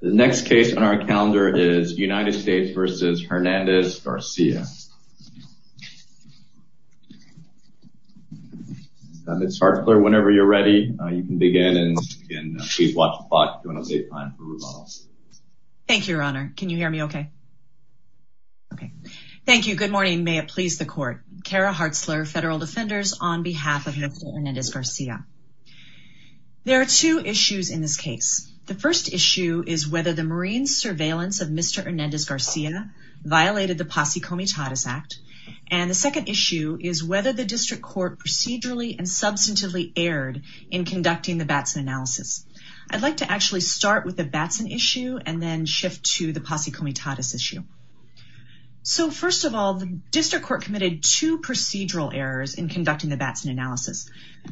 The next case on our calendar is United States v. Hernandez-Garcia. Ms. Hartzler, whenever you're ready, you can begin and please watch the clock. Thank you, Your Honor. Can you hear me okay? Okay. Thank you. Good morning. May it please the court. Cara Hartzler, Federal Defenders, on behalf of Hernandez-Garcia. There are two issues in this case. The first issue is whether the Marines' surveillance of Mr. Hernandez-Garcia violated the Posse Comitatus Act. And the second issue is whether the district court procedurally and substantively erred in conducting the Batson analysis. I'd like to actually start with the Batson issue and then shift to the Posse Comitatus issue. So first of all, the district court committed two procedural errors in conducting the Batson analysis.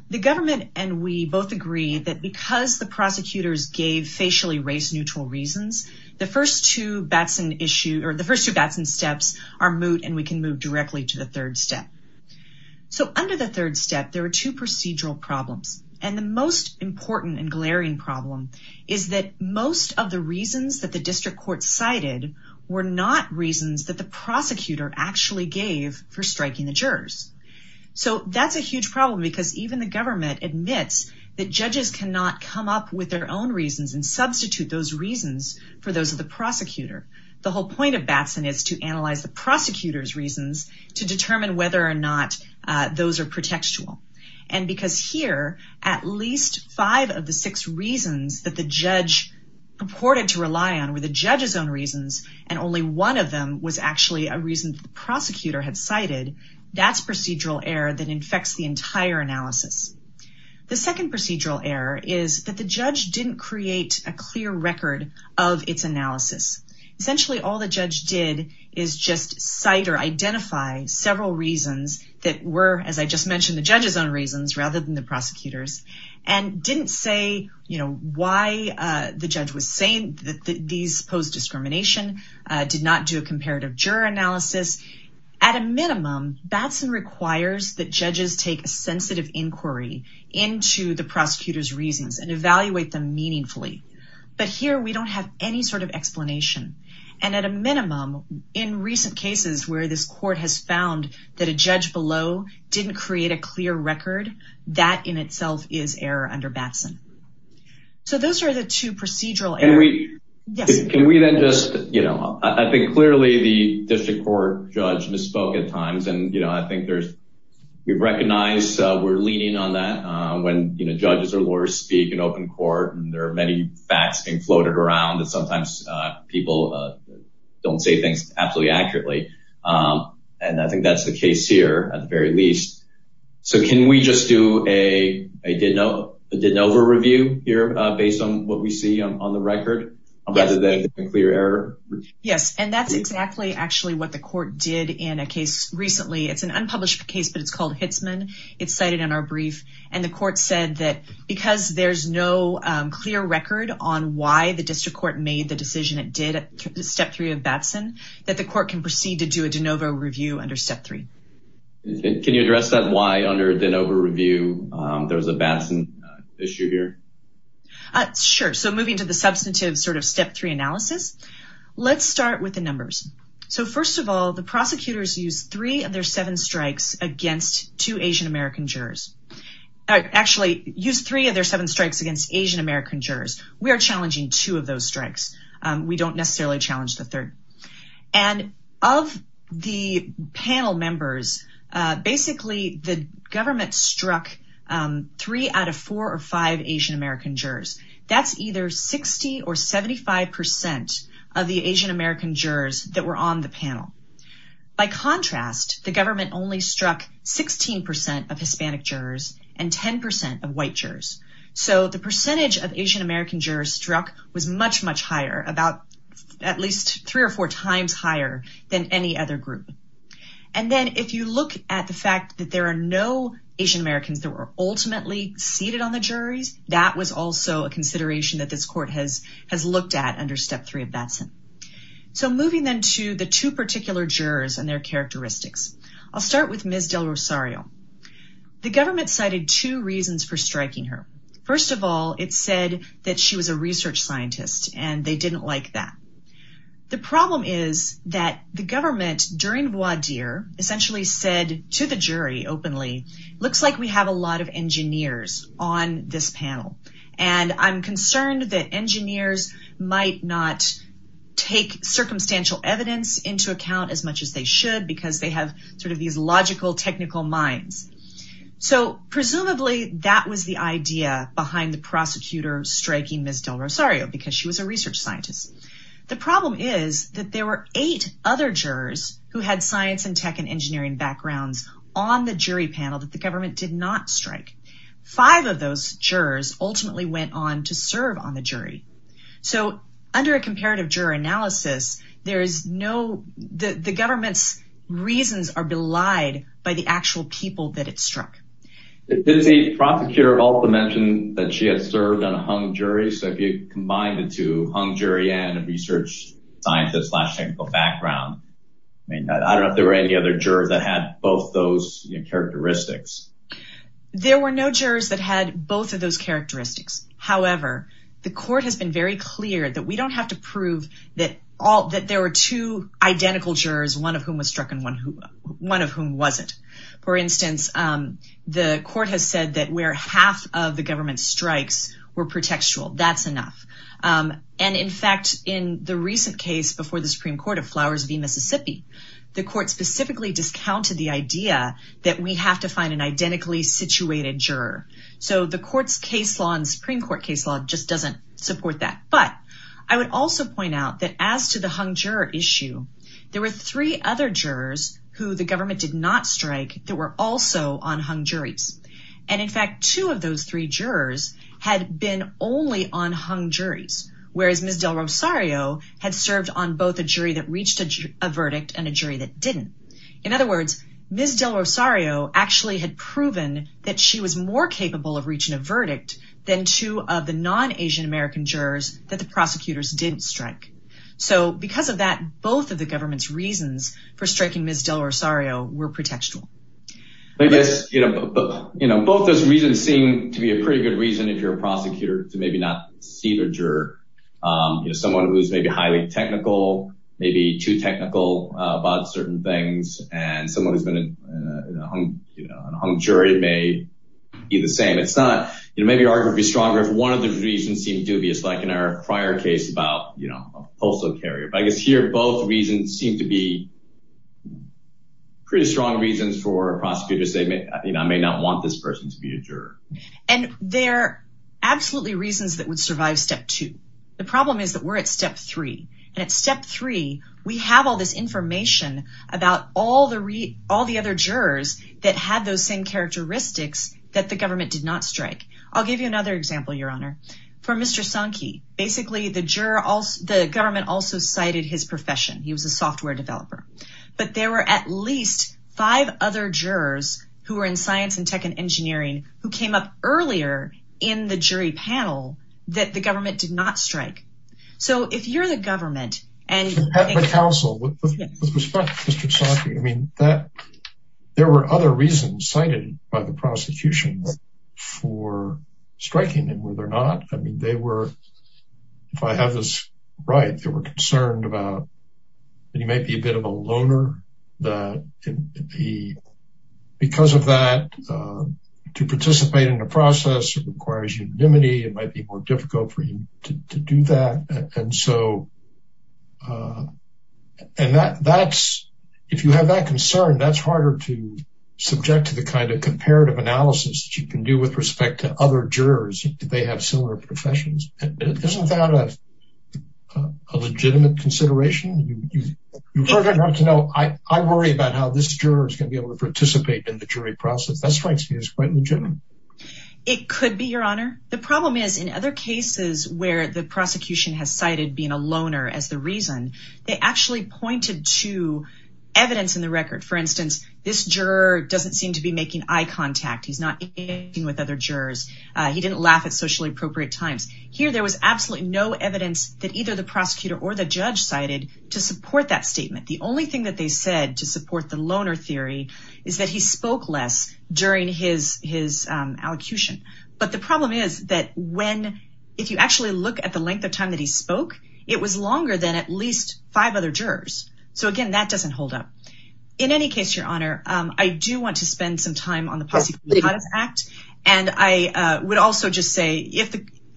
The government and we both agree that because the prosecutors gave facially race-neutral reasons, the first two Batson steps are moot and we can move directly to the third step. So under the third step, there are two procedural problems. And the most important and glaring problem is that most of the reasons that the district court cited were not reasons that the prosecutor actually gave for striking the jurors. So that's a huge problem because even the government admits that judges cannot come up with their own reasons and substitute those reasons for those of the prosecutor. The whole point of Batson is to analyze the prosecutor's reasons to determine whether or not those are protectual. And because here, at least five of the six reasons that the judge purported to rely on were the judge's own reasons, and only one of them was actually a reason the prosecutor had cited, that's procedural error that the entire analysis. The second procedural error is that the judge didn't create a clear record of its analysis. Essentially, all the judge did is just cite or identify several reasons that were, as I just mentioned, the judge's own reasons rather than the prosecutor's and didn't say, you know, why the judge was saying that these pose discrimination, did not do a comparative juror analysis. At a minimum, Batson requires that judges take a sensitive inquiry into the prosecutor's reasons and evaluate them meaningfully. But here we don't have any sort of explanation. And at a minimum, in recent cases where this court has found that a judge below didn't create a clear record, that in itself is error under Batson. So those are the two procedural errors. Can we then just, you know, I think clearly the district court judge misspoke at times, and you know, I think there's, we recognize we're leaning on that when, you know, judges or lawyers speak in open court, and there are many facts being floated around that sometimes people don't say things absolutely accurately. And I think that's the case here, at the very least. So can we just do a DeNovo review here, based on what we see on the record, rather than a clear error? Yes, and that's exactly actually what the court did in a case recently. It's an unpublished case, but it's called Hitzman. It's cited in our brief, and the court said that because there's no clear record on why the district court made the decision it did at step three of Batson, that the court can proceed to do a DeNovo review under step three. Can you address that, why under DeNovo review? There was a Batson issue here. Sure, so moving to the substantive sort of step three analysis, let's start with the numbers. So first of all, the prosecutors used three of their seven strikes against two Asian-American jurors. Actually, used three of their seven strikes against Asian-American jurors. We are challenging two of those strikes. We don't necessarily challenge the third. And of the panel members, basically the government struck three out of four or five Asian-American jurors. That's either 60 or 75 percent of the Asian-American jurors that were on the panel. By contrast, the government only struck 16 percent of Hispanic jurors and 10 percent of white jurors. So the percentage of Asian-American jurors struck was much, much higher, about at least three or four times higher than any other group. And then if you look at the fact that there are no Asian-Americans that were ultimately seated on the juries, that was also a consideration that this court has looked at under step three of Batson. So moving then to the two particular jurors and their characteristics. I'll start with Ms. Del Rosario. The government cited two reasons for striking her. First of all, it said that she was a research scientist and they didn't like that. The problem is that the government, during voir dire, essentially said to the jury openly, looks like we have a lot of engineers on this panel. And I'm concerned that engineers might not take circumstantial evidence into account as much as they should because they have sort of these logical technical minds. So presumably that was the idea behind the because she was a research scientist. The problem is that there were eight other jurors who had science and tech and engineering backgrounds on the jury panel that the government did not strike. Five of those jurors ultimately went on to serve on the jury. So under a comparative juror analysis, there is no the government's reasons are belied by the actual people that it struck. Did the prosecutor also mention that she had served on a hung jury? So if you combine the two, hung jury and a research scientist slash technical background, I mean, I don't know if there were any other jurors that had both those characteristics. There were no jurors that had both of those characteristics. However, the court has been very clear that we don't have to prove that all that there were two identical jurors, one of whom was struck and one who one of whom wasn't. For instance, the court has said that where half of the government strikes were pretextual. That's enough. And in fact, in the recent case before the Supreme Court of Flowers v. Mississippi, the court specifically discounted the idea that we have to find an identically situated juror. So the court's case law and Supreme Court case law just doesn't support that. But I would also point out that as to the hung juror issue, there were three other jurors who did not strike that were also on hung juries. And in fact, two of those three jurors had been only on hung juries, whereas Ms. Del Rosario had served on both a jury that reached a verdict and a jury that didn't. In other words, Ms. Del Rosario actually had proven that she was more capable of reaching a verdict than two of the non-Asian American jurors that the prosecutors didn't strike. So because of that, both of the government's reasons for striking Ms. Del Rosario were pretextual. I guess, you know, both those reasons seem to be a pretty good reason if you're a prosecutor to maybe not see the juror. You know, someone who's maybe highly technical, maybe too technical about certain things, and someone who's been on a hung jury may be the same. It's not, you know, maybe arguably stronger if one of the reasons seem dubious, like in our prior case about, you know, a postal carrier. But I guess here both reasons seem to be pretty strong reasons for a prosecutor to say, you know, I may not want this person to be a juror. And they're absolutely reasons that would survive step two. The problem is that we're at step three. And at step three, we have all this information about all the other jurors that had those same characteristics that the government did not strike. I'll give you another example, Your Honor. For Mr. Sankey, basically the government also cited his profession. He was a software developer. But there were at least five other jurors who were in science and tech and engineering who came up earlier in the jury panel that the government did not strike. So if you're the government and... But counsel, with respect to Mr. Sankey, I mean, there were other reasons cited by the prosecution for striking him, were there not? I mean, they were, if I have this right, they were concerned about that he might be a bit of a loner. Because of that, to participate in the process requires unanimity. It might be more difficult for him to do that. And so, and that's, if you have that concern, that's harder to subject to the kind of comparative analysis that you can do with respect to other jurors. They have similar professions. Isn't that a legitimate consideration? You further have to know, I worry about how this juror is going to be able to participate in the jury process. That strikes me as quite legitimate. It could be, Your Honor. The problem is, in other cases where the prosecution has cited being a loner as the reason, they actually pointed to evidence in the record. For instance, this juror doesn't seem to be making eye contact. He's not interacting with other jurors. He didn't laugh at socially appropriate times. Here, there was absolutely no evidence that either the prosecutor or the judge cited to support that statement. The only thing that they said to support the loner theory is that he spoke less during his allocution. But the problem is that when, if you actually look at the length of time that he spoke, it was longer than at least five other jurors. So again, that doesn't hold up. In any case, Your Honor, I do want to spend some time on the Posse Comitatus Act. And I would also just say,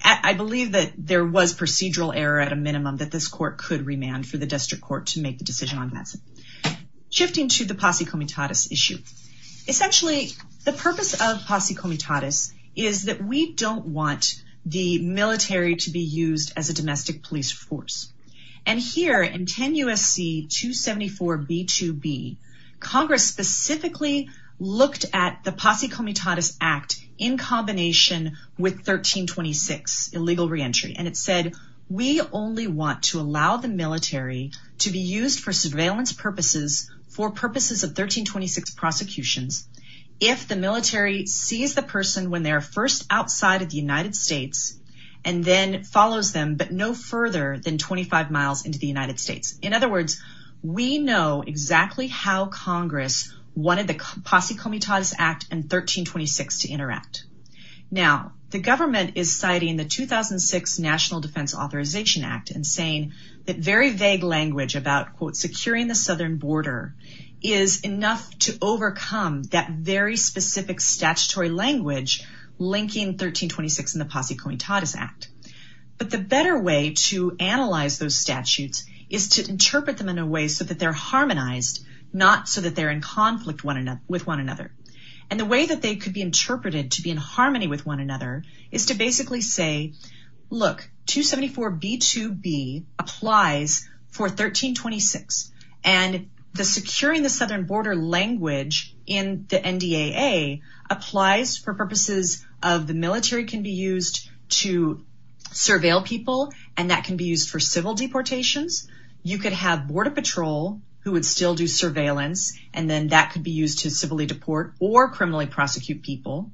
I believe that there was procedural error at a minimum that this court could remand for the district court to make the decision on that. Shifting to the Posse Comitatus issue. Essentially, the purpose of Posse Comitatus is that we don't want the military to be used as a domestic police force. And here, in 10 U.S.C. 274 B2B, Congress specifically looked at the Posse Comitatus Act in combination with 1326, illegal reentry. And it said, we only want to allow the military to be used for surveillance purposes, for purposes of 1326 prosecutions, if the military sees the person when they're first outside of the United States, and then follows them, but no further than 25 miles into the United States. In other words, we know exactly how Congress wanted the Posse Comitatus Act and 1326 to interact. Now, the government is citing the 2006 National Defense Authorization Act and saying that very vague language about, quote, securing the southern border is enough to overcome that very specific statutory language linking 1326 and the Posse Comitatus Act. But the better way to analyze those is to say, look, 274 B2B applies for 1326. And the securing the southern border language in the NDAA applies for purposes of the military can be used to surveil people, and that can be used for civil deportations. You could have border patrol who would still do surveillance, and then that could be used to civilly deport or criminally prosecute people.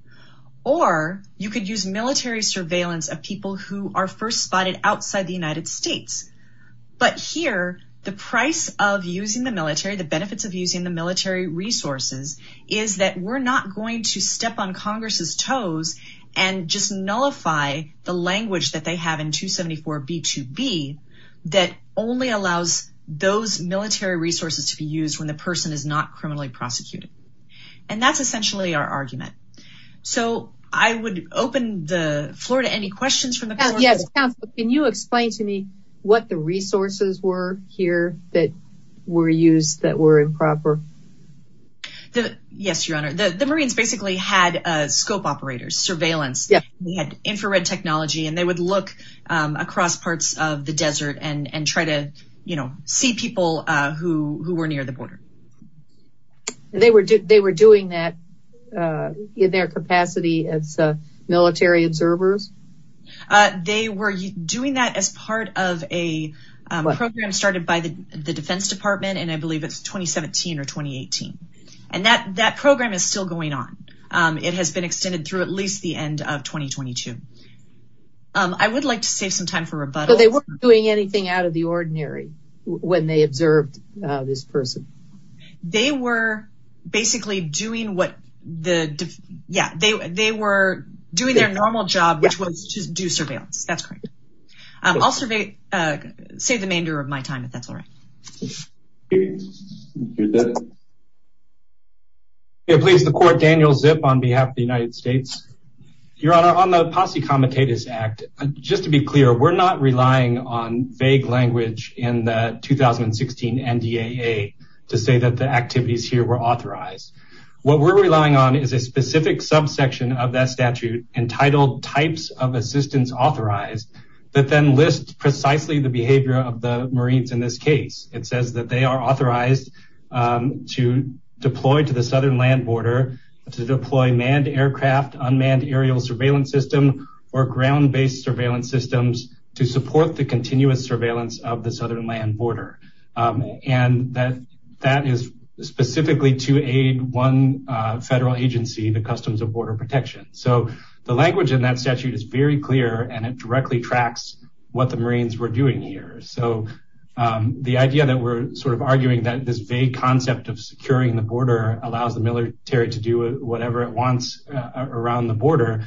Or you could use military surveillance of people who are first spotted outside the United States. But here, the price of using the military, the benefits of using the military resources, is that we're not going to step on Congress's toes and just nullify the language that they have in 274 B2B that only allows those military resources to be used when the person is not criminally prosecuted. And that's essentially our argument. So I would open the floor to any questions from the panel. Yes, counsel, can you explain to me what the resources were here that were used that were improper? Yes, Your Honor, the Marines basically had scope operators, surveillance. We had infrared technology, and they would look across parts of the desert and try to, you know, see people who were near the border. They were doing that in their capacity as military observers? They were doing that as part of a program started by the Defense Department, and I believe it was in 2018. And that program is still going on. It has been extended through at least the end of 2022. I would like to save some time for rebuttal. But they weren't doing anything out of the ordinary when they observed this person? They were basically doing their normal job, which was to do surveillance. That's correct. I'll save the remainder of my time if that's all right. Please, the court, Daniel Zip on behalf of the United States. Your Honor, on the Posse Comitatus Act, just to be clear, we're not relying on vague language in the 2016 NDAA to say that the activities here were authorized. What we're relying on is a specific subsection of that statute entitled types of assistance authorized that then lists precisely the behavior of the Marines in this case. It is to deploy to the southern land border, to deploy manned aircraft, unmanned aerial surveillance system, or ground-based surveillance systems to support the continuous surveillance of the southern land border. And that is specifically to aid one federal agency, the Customs of Border Protection. So the language in that statute is very clear, and it directly tracks what the Marines were doing. So the fact that securing the border allows the military to do whatever it wants around the border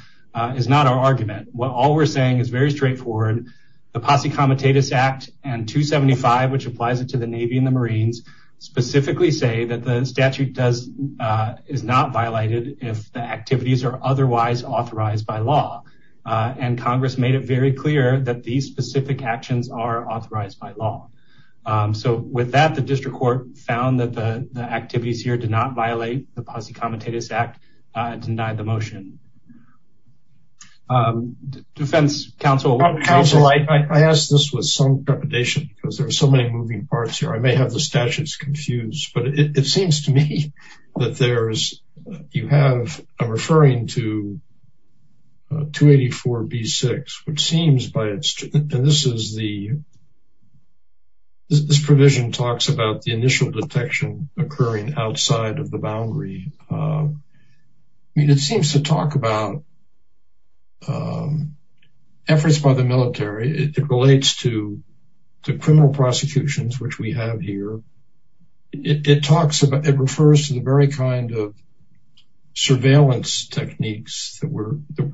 is not our argument. All we're saying is very straightforward. The Posse Comitatus Act and 275, which applies it to the Navy and the Marines, specifically say that the statute is not violated if the activities are otherwise authorized by law. And Congress made it very clear that these specific actions are authorized by law. So with that, the district court found that the activities here did not violate the Posse Comitatus Act and denied the motion. Defense counsel, counsel, I asked this with some trepidation because there are so many moving parts here. I may have the statutes confused, but it seems to me that there's, you have, I'm referring to 284B6, which seems by its, and this is the, this provision talks about the initial detection occurring outside of the boundary. I mean, it seems to talk about efforts by the military. It relates to the criminal prosecutions, which we were, that we're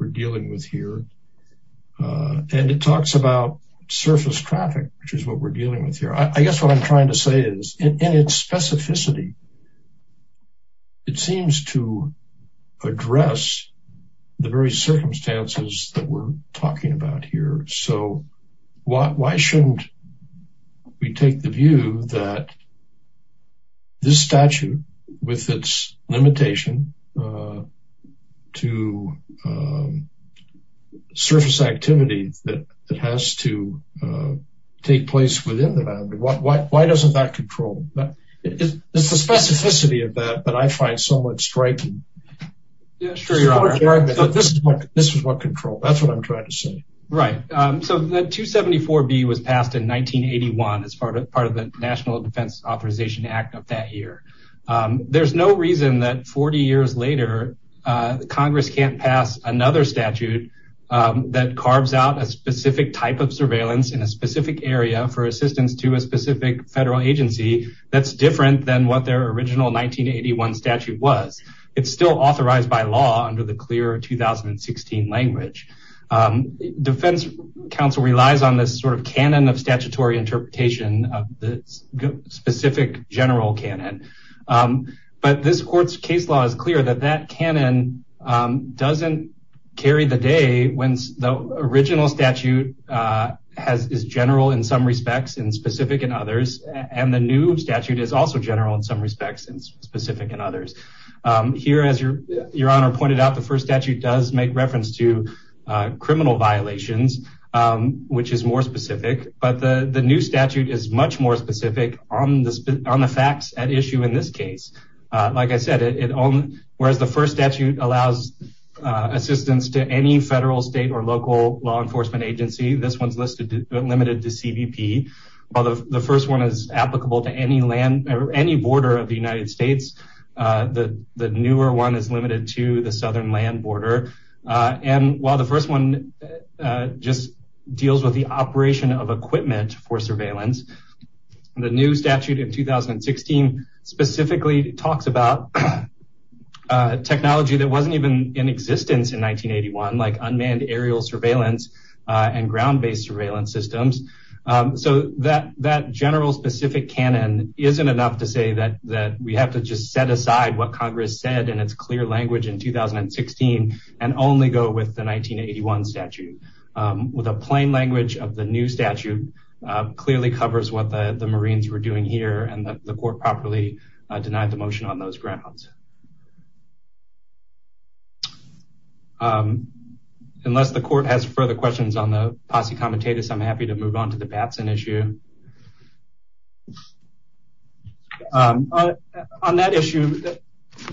dealing with here. And it talks about surface traffic, which is what we're dealing with here. I guess what I'm trying to say is in its specificity, it seems to address the very circumstances that we're talking about here. So why shouldn't we take the view that this statute with its limitation to surface activities that has to take place within the boundary? Why doesn't that control? It's the specificity of that, that I find somewhat striking. Yeah, sure, Your Honor. This is what control, that's what I'm trying to say. Right. So that 274B was passed in 1981 as part of the National Defense Authorization Act of that year. There's no reason that 40 years later, Congress can't pass another statute that carves out a specific type of surveillance in a specific area for assistance to a specific federal agency that's different than what their original 1981 statute was. It's still authorized by law under the clear 2016 language. Defense counsel relies on this sort of canon of general canon. But this court's case law is clear that that canon doesn't carry the day when the original statute is general in some respects and specific in others. And the new statute is also general in some respects and specific in others. Here, as Your Honor pointed out, the first statute does make reference to criminal violations, which is more specific. But the new statute is much more specific on the facts at issue in this case. Like I said, whereas the first statute allows assistance to any federal, state, or local law enforcement agency, this one's limited to CBP. While the first one is applicable to any border of the United States, the newer one is limited to the southern land border. And while the first one just deals with the operation of equipment for surveillance, the new statute in 2016, specifically talks about technology that wasn't even in existence in 1981, like unmanned aerial surveillance, and ground based surveillance systems. So that that general specific canon isn't enough to say that that we have to just set aside what Congress said in its clear language in 2016, and only go with the 1981 statute. With a plain language of the new statute, it's not enough to say that the Marines were doing here and that the court properly denied the motion on those grounds. Unless the court has further questions on the posse comitatus, I'm happy to move on to the Batson issue. On that issue,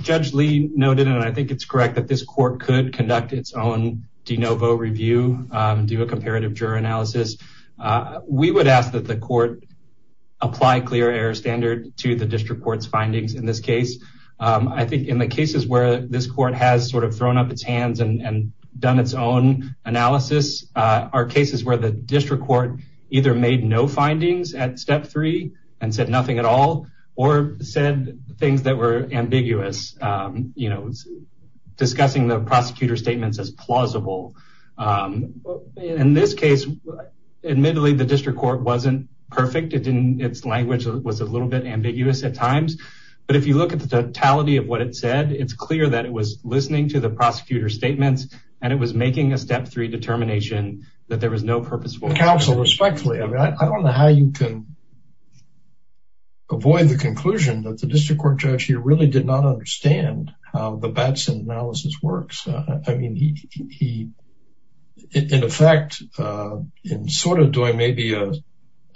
Judge Lee noted, and I think it's correct, that this court could conduct its own de novo review, do a comparative juror analysis. We would ask that the court apply clear air standard to the district court's findings in this case. I think in the cases where this court has sort of thrown up its hands and done its own analysis, are cases where the district court either made no findings at step three, and said nothing at all, or said things that were ambiguous, you know, discussing the prosecutor statements as plausible. In this case, admittedly, the district court wasn't perfect. Its language was a little bit ambiguous at times. But if you look at the totality of what it said, it's clear that it was listening to the prosecutor statements, and it was making a step three determination that there was no purposeful counsel. Respectfully, I mean, I don't know how you can avoid the conclusion that the district court judge here really did not understand how the Batson analysis works. I mean, he, in effect, in sort of doing maybe a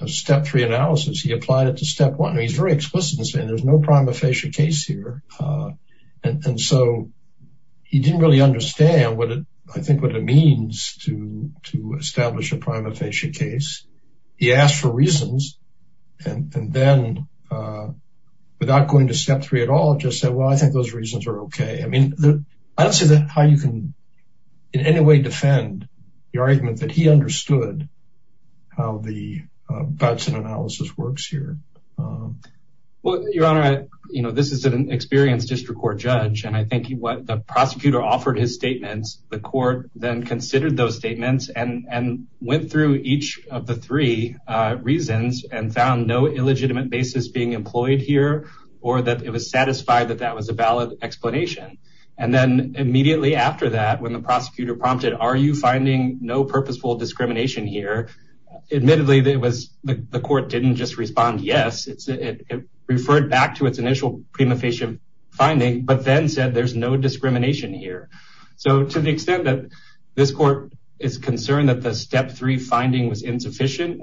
step three analysis, he applied it to step one, he's very explicit in saying there's no prima facie case here. And so he didn't really understand what it I think what it means to to establish a prima facie case. He asked for reasons. And then, without going to step three at all, just said, Well, I think those reasons are okay. I mean, I don't see that how you can, in any way defend the argument that he understood how the Batson analysis works here. Well, Your Honor, you know, this is an experienced district court judge. And I think what the prosecutor offered his statements, the court then considered those statements and went through each of the three reasons and found no illegitimate basis being employed here, or that it was satisfied that that was a and then immediately after that, when the prosecutor prompted, Are you finding no purposeful discrimination here? Admittedly, there was the court didn't just respond, Yes, it's it referred back to its initial prima facie finding, but then said, There's no discrimination here. So to the extent that this court is concerned that the step three finding was insufficient,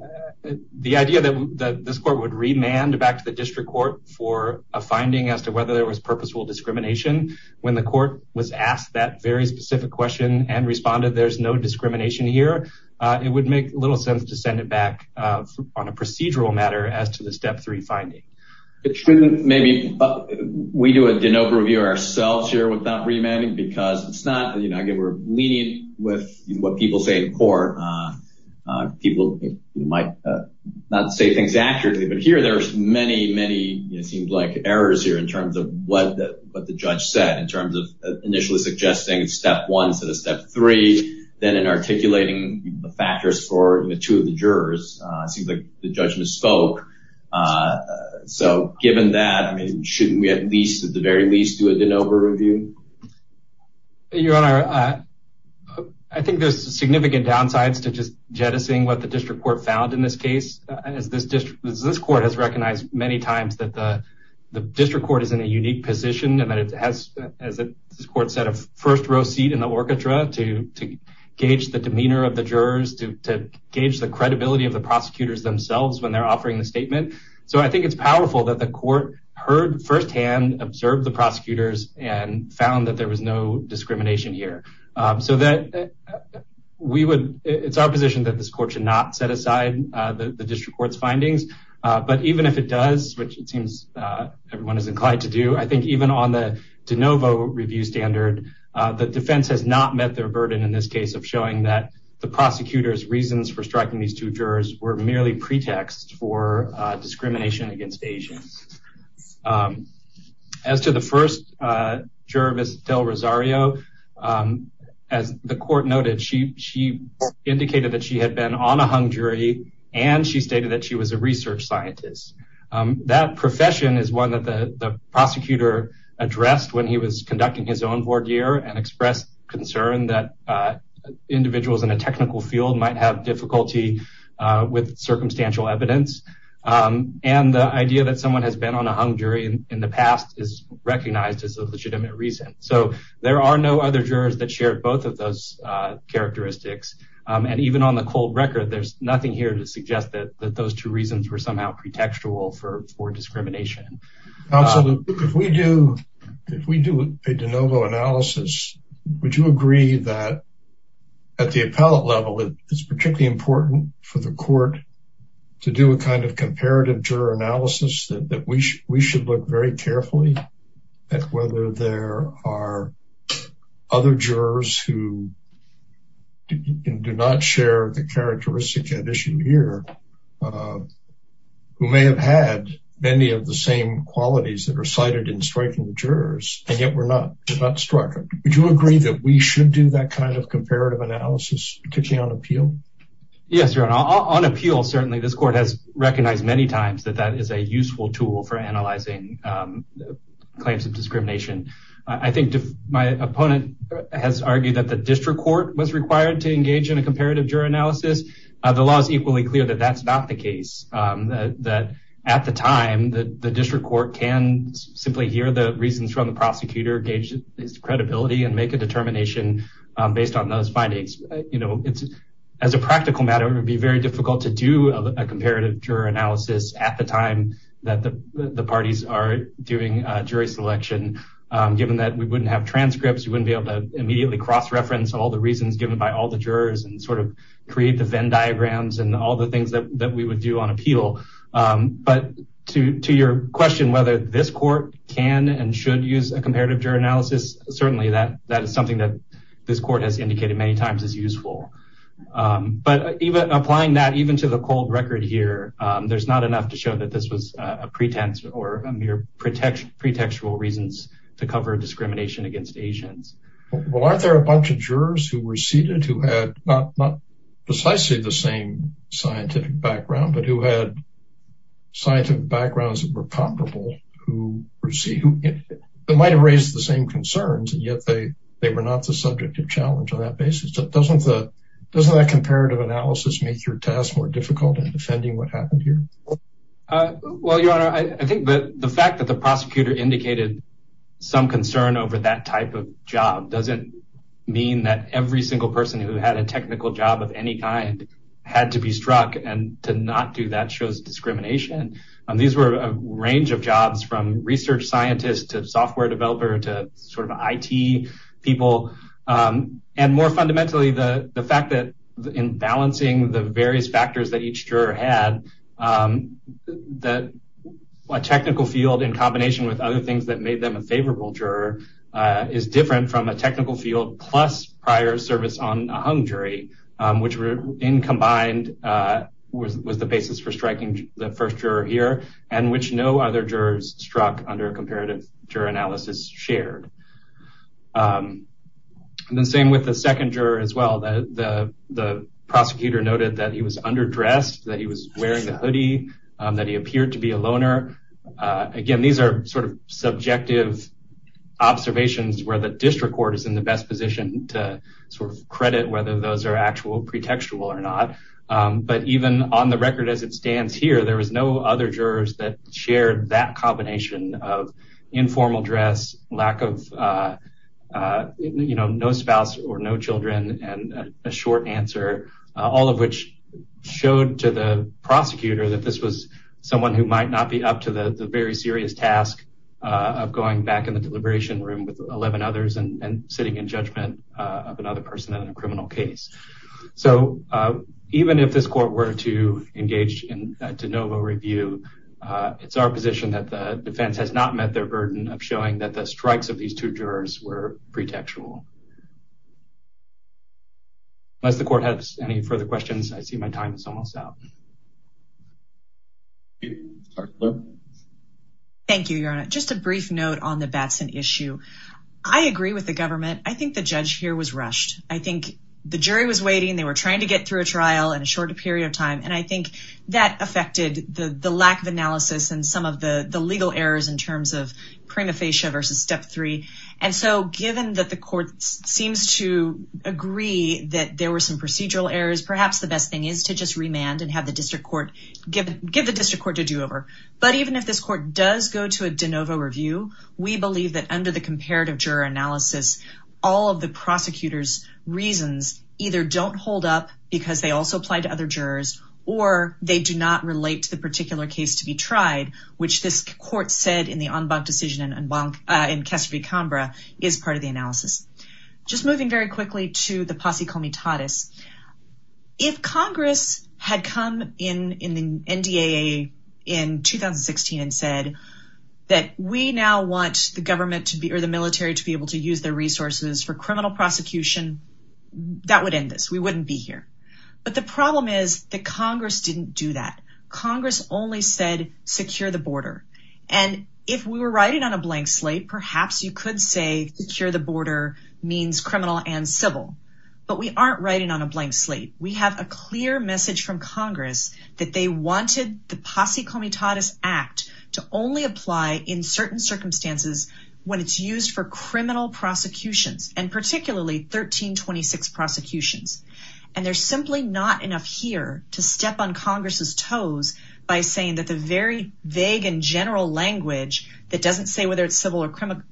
the idea that this court would remand back to the district court for a finding as to whether there was purposeful discrimination, when the court was asked that very specific question and responded, There's no discrimination here, it would make little sense to send it back on a procedural matter as to the step three finding. It shouldn't maybe we do a de novo review ourselves here without remanding because it's not you know, I get we're leaning with what people say in court. People might not say things accurately. But here, there's many, many, it seems like errors here in terms of what the what the judge said in terms of initially suggesting step one to the step three, then in articulating the factors for the two of the jurors, seems like the judge misspoke. So given that, I mean, shouldn't we at least at the very least do a de novo review? Your Honor, I think there's significant downsides to just jettisoning what the district court found in this case, as this district, this court has recognized many times that the district court is in a unique position and that it has, as this court set a first row seat in the orchestra to gauge the demeanor of the jurors to gauge the credibility of the prosecutors themselves when they're offering the statement. So I think it's powerful that the court heard firsthand observed the prosecutors and found that there was no discrimination here. So that we would, it's our position that this court should not set aside the jurors. And if it does, which it seems everyone is inclined to do, I think even on the de novo review standard, the defense has not met their burden in this case of showing that the prosecutor's reasons for striking these two jurors were merely pretext for discrimination against Asians. As to the first juror, Ms. Del Rosario, as the court noted, she indicated that she had been on a hung jury, and she stated that she was a research scientist. That profession is one that the prosecutor addressed when he was conducting his own voir dire and expressed concern that individuals in a technical field might have difficulty with circumstantial evidence. And the idea that someone has been on a hung jury in the past is recognized as a legitimate reason. So there are no other jurors that share both of those characteristics. And even on the cold record, there's nothing here to suggest that those two reasons were somehow pretextual for discrimination. Counsel, if we do a de novo analysis, would you agree that at the appellate level, it's particularly important for the court to do a kind of comparative juror analysis that we should look very carefully at whether there are other jurors who may have had many of the same qualities that are cited in striking the jurors, and yet were not struck. Would you agree that we should do that kind of comparative analysis, particularly on appeal? Yes, Your Honor. On appeal, certainly, this court has recognized many times that that is a useful tool for analyzing claims of discrimination. I think my opponent has argued that the district court was required to engage in a juror analysis. The law is equally clear that that's not the case, that at the time, the district court can simply hear the reasons from the prosecutor, gauge his credibility, and make a determination based on those findings. You know, as a practical matter, it would be very difficult to do a comparative juror analysis at the time that the parties are doing jury selection, given that we wouldn't have transcripts, we wouldn't be able to immediately cross-reference all the reasons given by all the jurors and sort of create the Venn diagrams and all the things that we would do on appeal. But to your question whether this court can and should use a comparative juror analysis, certainly that is something that this court has indicated many times is useful. But even applying that even to the cold record here, there's not enough to show that this was a pretense or a mere pretextual reasons to cover discrimination against Asians. Well, aren't there a bunch of jurors who were seated who had not precisely the same scientific background, but who had scientific backgrounds that were comparable, who might have raised the same concerns, and yet they were not the subject of challenge on that basis. Doesn't that comparative analysis make your task more difficult in defending what happened here? Well, Your Honor, I think that the fact that the prosecutor indicated some job doesn't mean that every single person who had a technical job of any kind had to be struck. And to not do that shows discrimination. And these were a range of jobs from research scientist to software developer to sort of IT people. And more fundamentally, the fact that in balancing the various factors that each juror had, that a technical field in combination with other things that made them a technical field plus prior service on a hung jury, which were in combined, was the basis for striking the first juror here, and which no other jurors struck under comparative juror analysis shared. And the same with the second juror as well, the prosecutor noted that he was underdressed, that he was wearing a hoodie, that he appeared to be a loner. Again, these are sort of subjective observations where the district court is in the best position to sort of credit whether those are actual pretextual or not. But even on the record as it stands here, there was no other jurors that shared that combination of informal dress, lack of, you know, no spouse or no children, and a short answer, all of which showed to the prosecutor that this was someone who might not be up to the very serious task of going back in the deliberation room with 11 others and sitting in judgment of another person in a criminal case. So even if this court were to engage in de novo review, it's our position that the defense has not met their burden of showing that the strikes of these two jurors were pretextual. Unless the court has any further questions, I see my time is almost up. Thank you, Your Honor. Just a brief note on the Batson issue. I agree with the government. I think the judge here was rushed. I think the jury was waiting. They were trying to get through a trial in a shorter period of time. And I think that affected the lack of analysis and some of the legal errors in terms of prima facie versus step three. And so given that the court seems to agree that there were some procedural errors, perhaps the best thing is to just remand and have the district court give the district court to do over. But even if this court does go to a de novo review, we believe that under the comparative juror analysis, all of the prosecutor's reasons either don't hold up because they also apply to other jurors, or they do not relate to the particular case to be tried, which this court said in the en banc decision in Casper v. Canberra is part of the analysis. Just moving very quickly to the posse comitatis. If Congress had come in the NDAA in 2016 and said that we now want the military to be able to use their resources for criminal prosecution, that would end this. We wouldn't be here. But the problem is that Congress didn't do that. Congress only said secure the border. And if we were writing on a blank slate, perhaps you could say secure the border means criminal and civil. But we aren't writing on a blank slate. We have a clear message from Congress that they wanted the posse comitatis act to only apply in certain circumstances when it's used for criminal prosecutions and particularly 1326 prosecutions. And there's simply not enough here to step on Congress's toes by saying that the very vague and general language that doesn't say whether it's civil or statute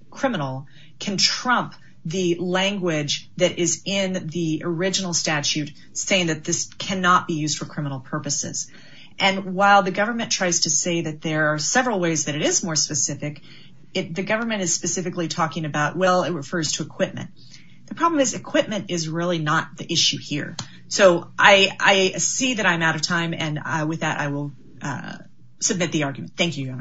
saying that this cannot be used for criminal purposes. And while the government tries to say that there are several ways that it is more specific, it the government is specifically talking about, well, it refers to equipment. The problem is equipment is really not the issue here. So I see that I'm out of time. And with that, I will submit the argument. Thank you. Thank you.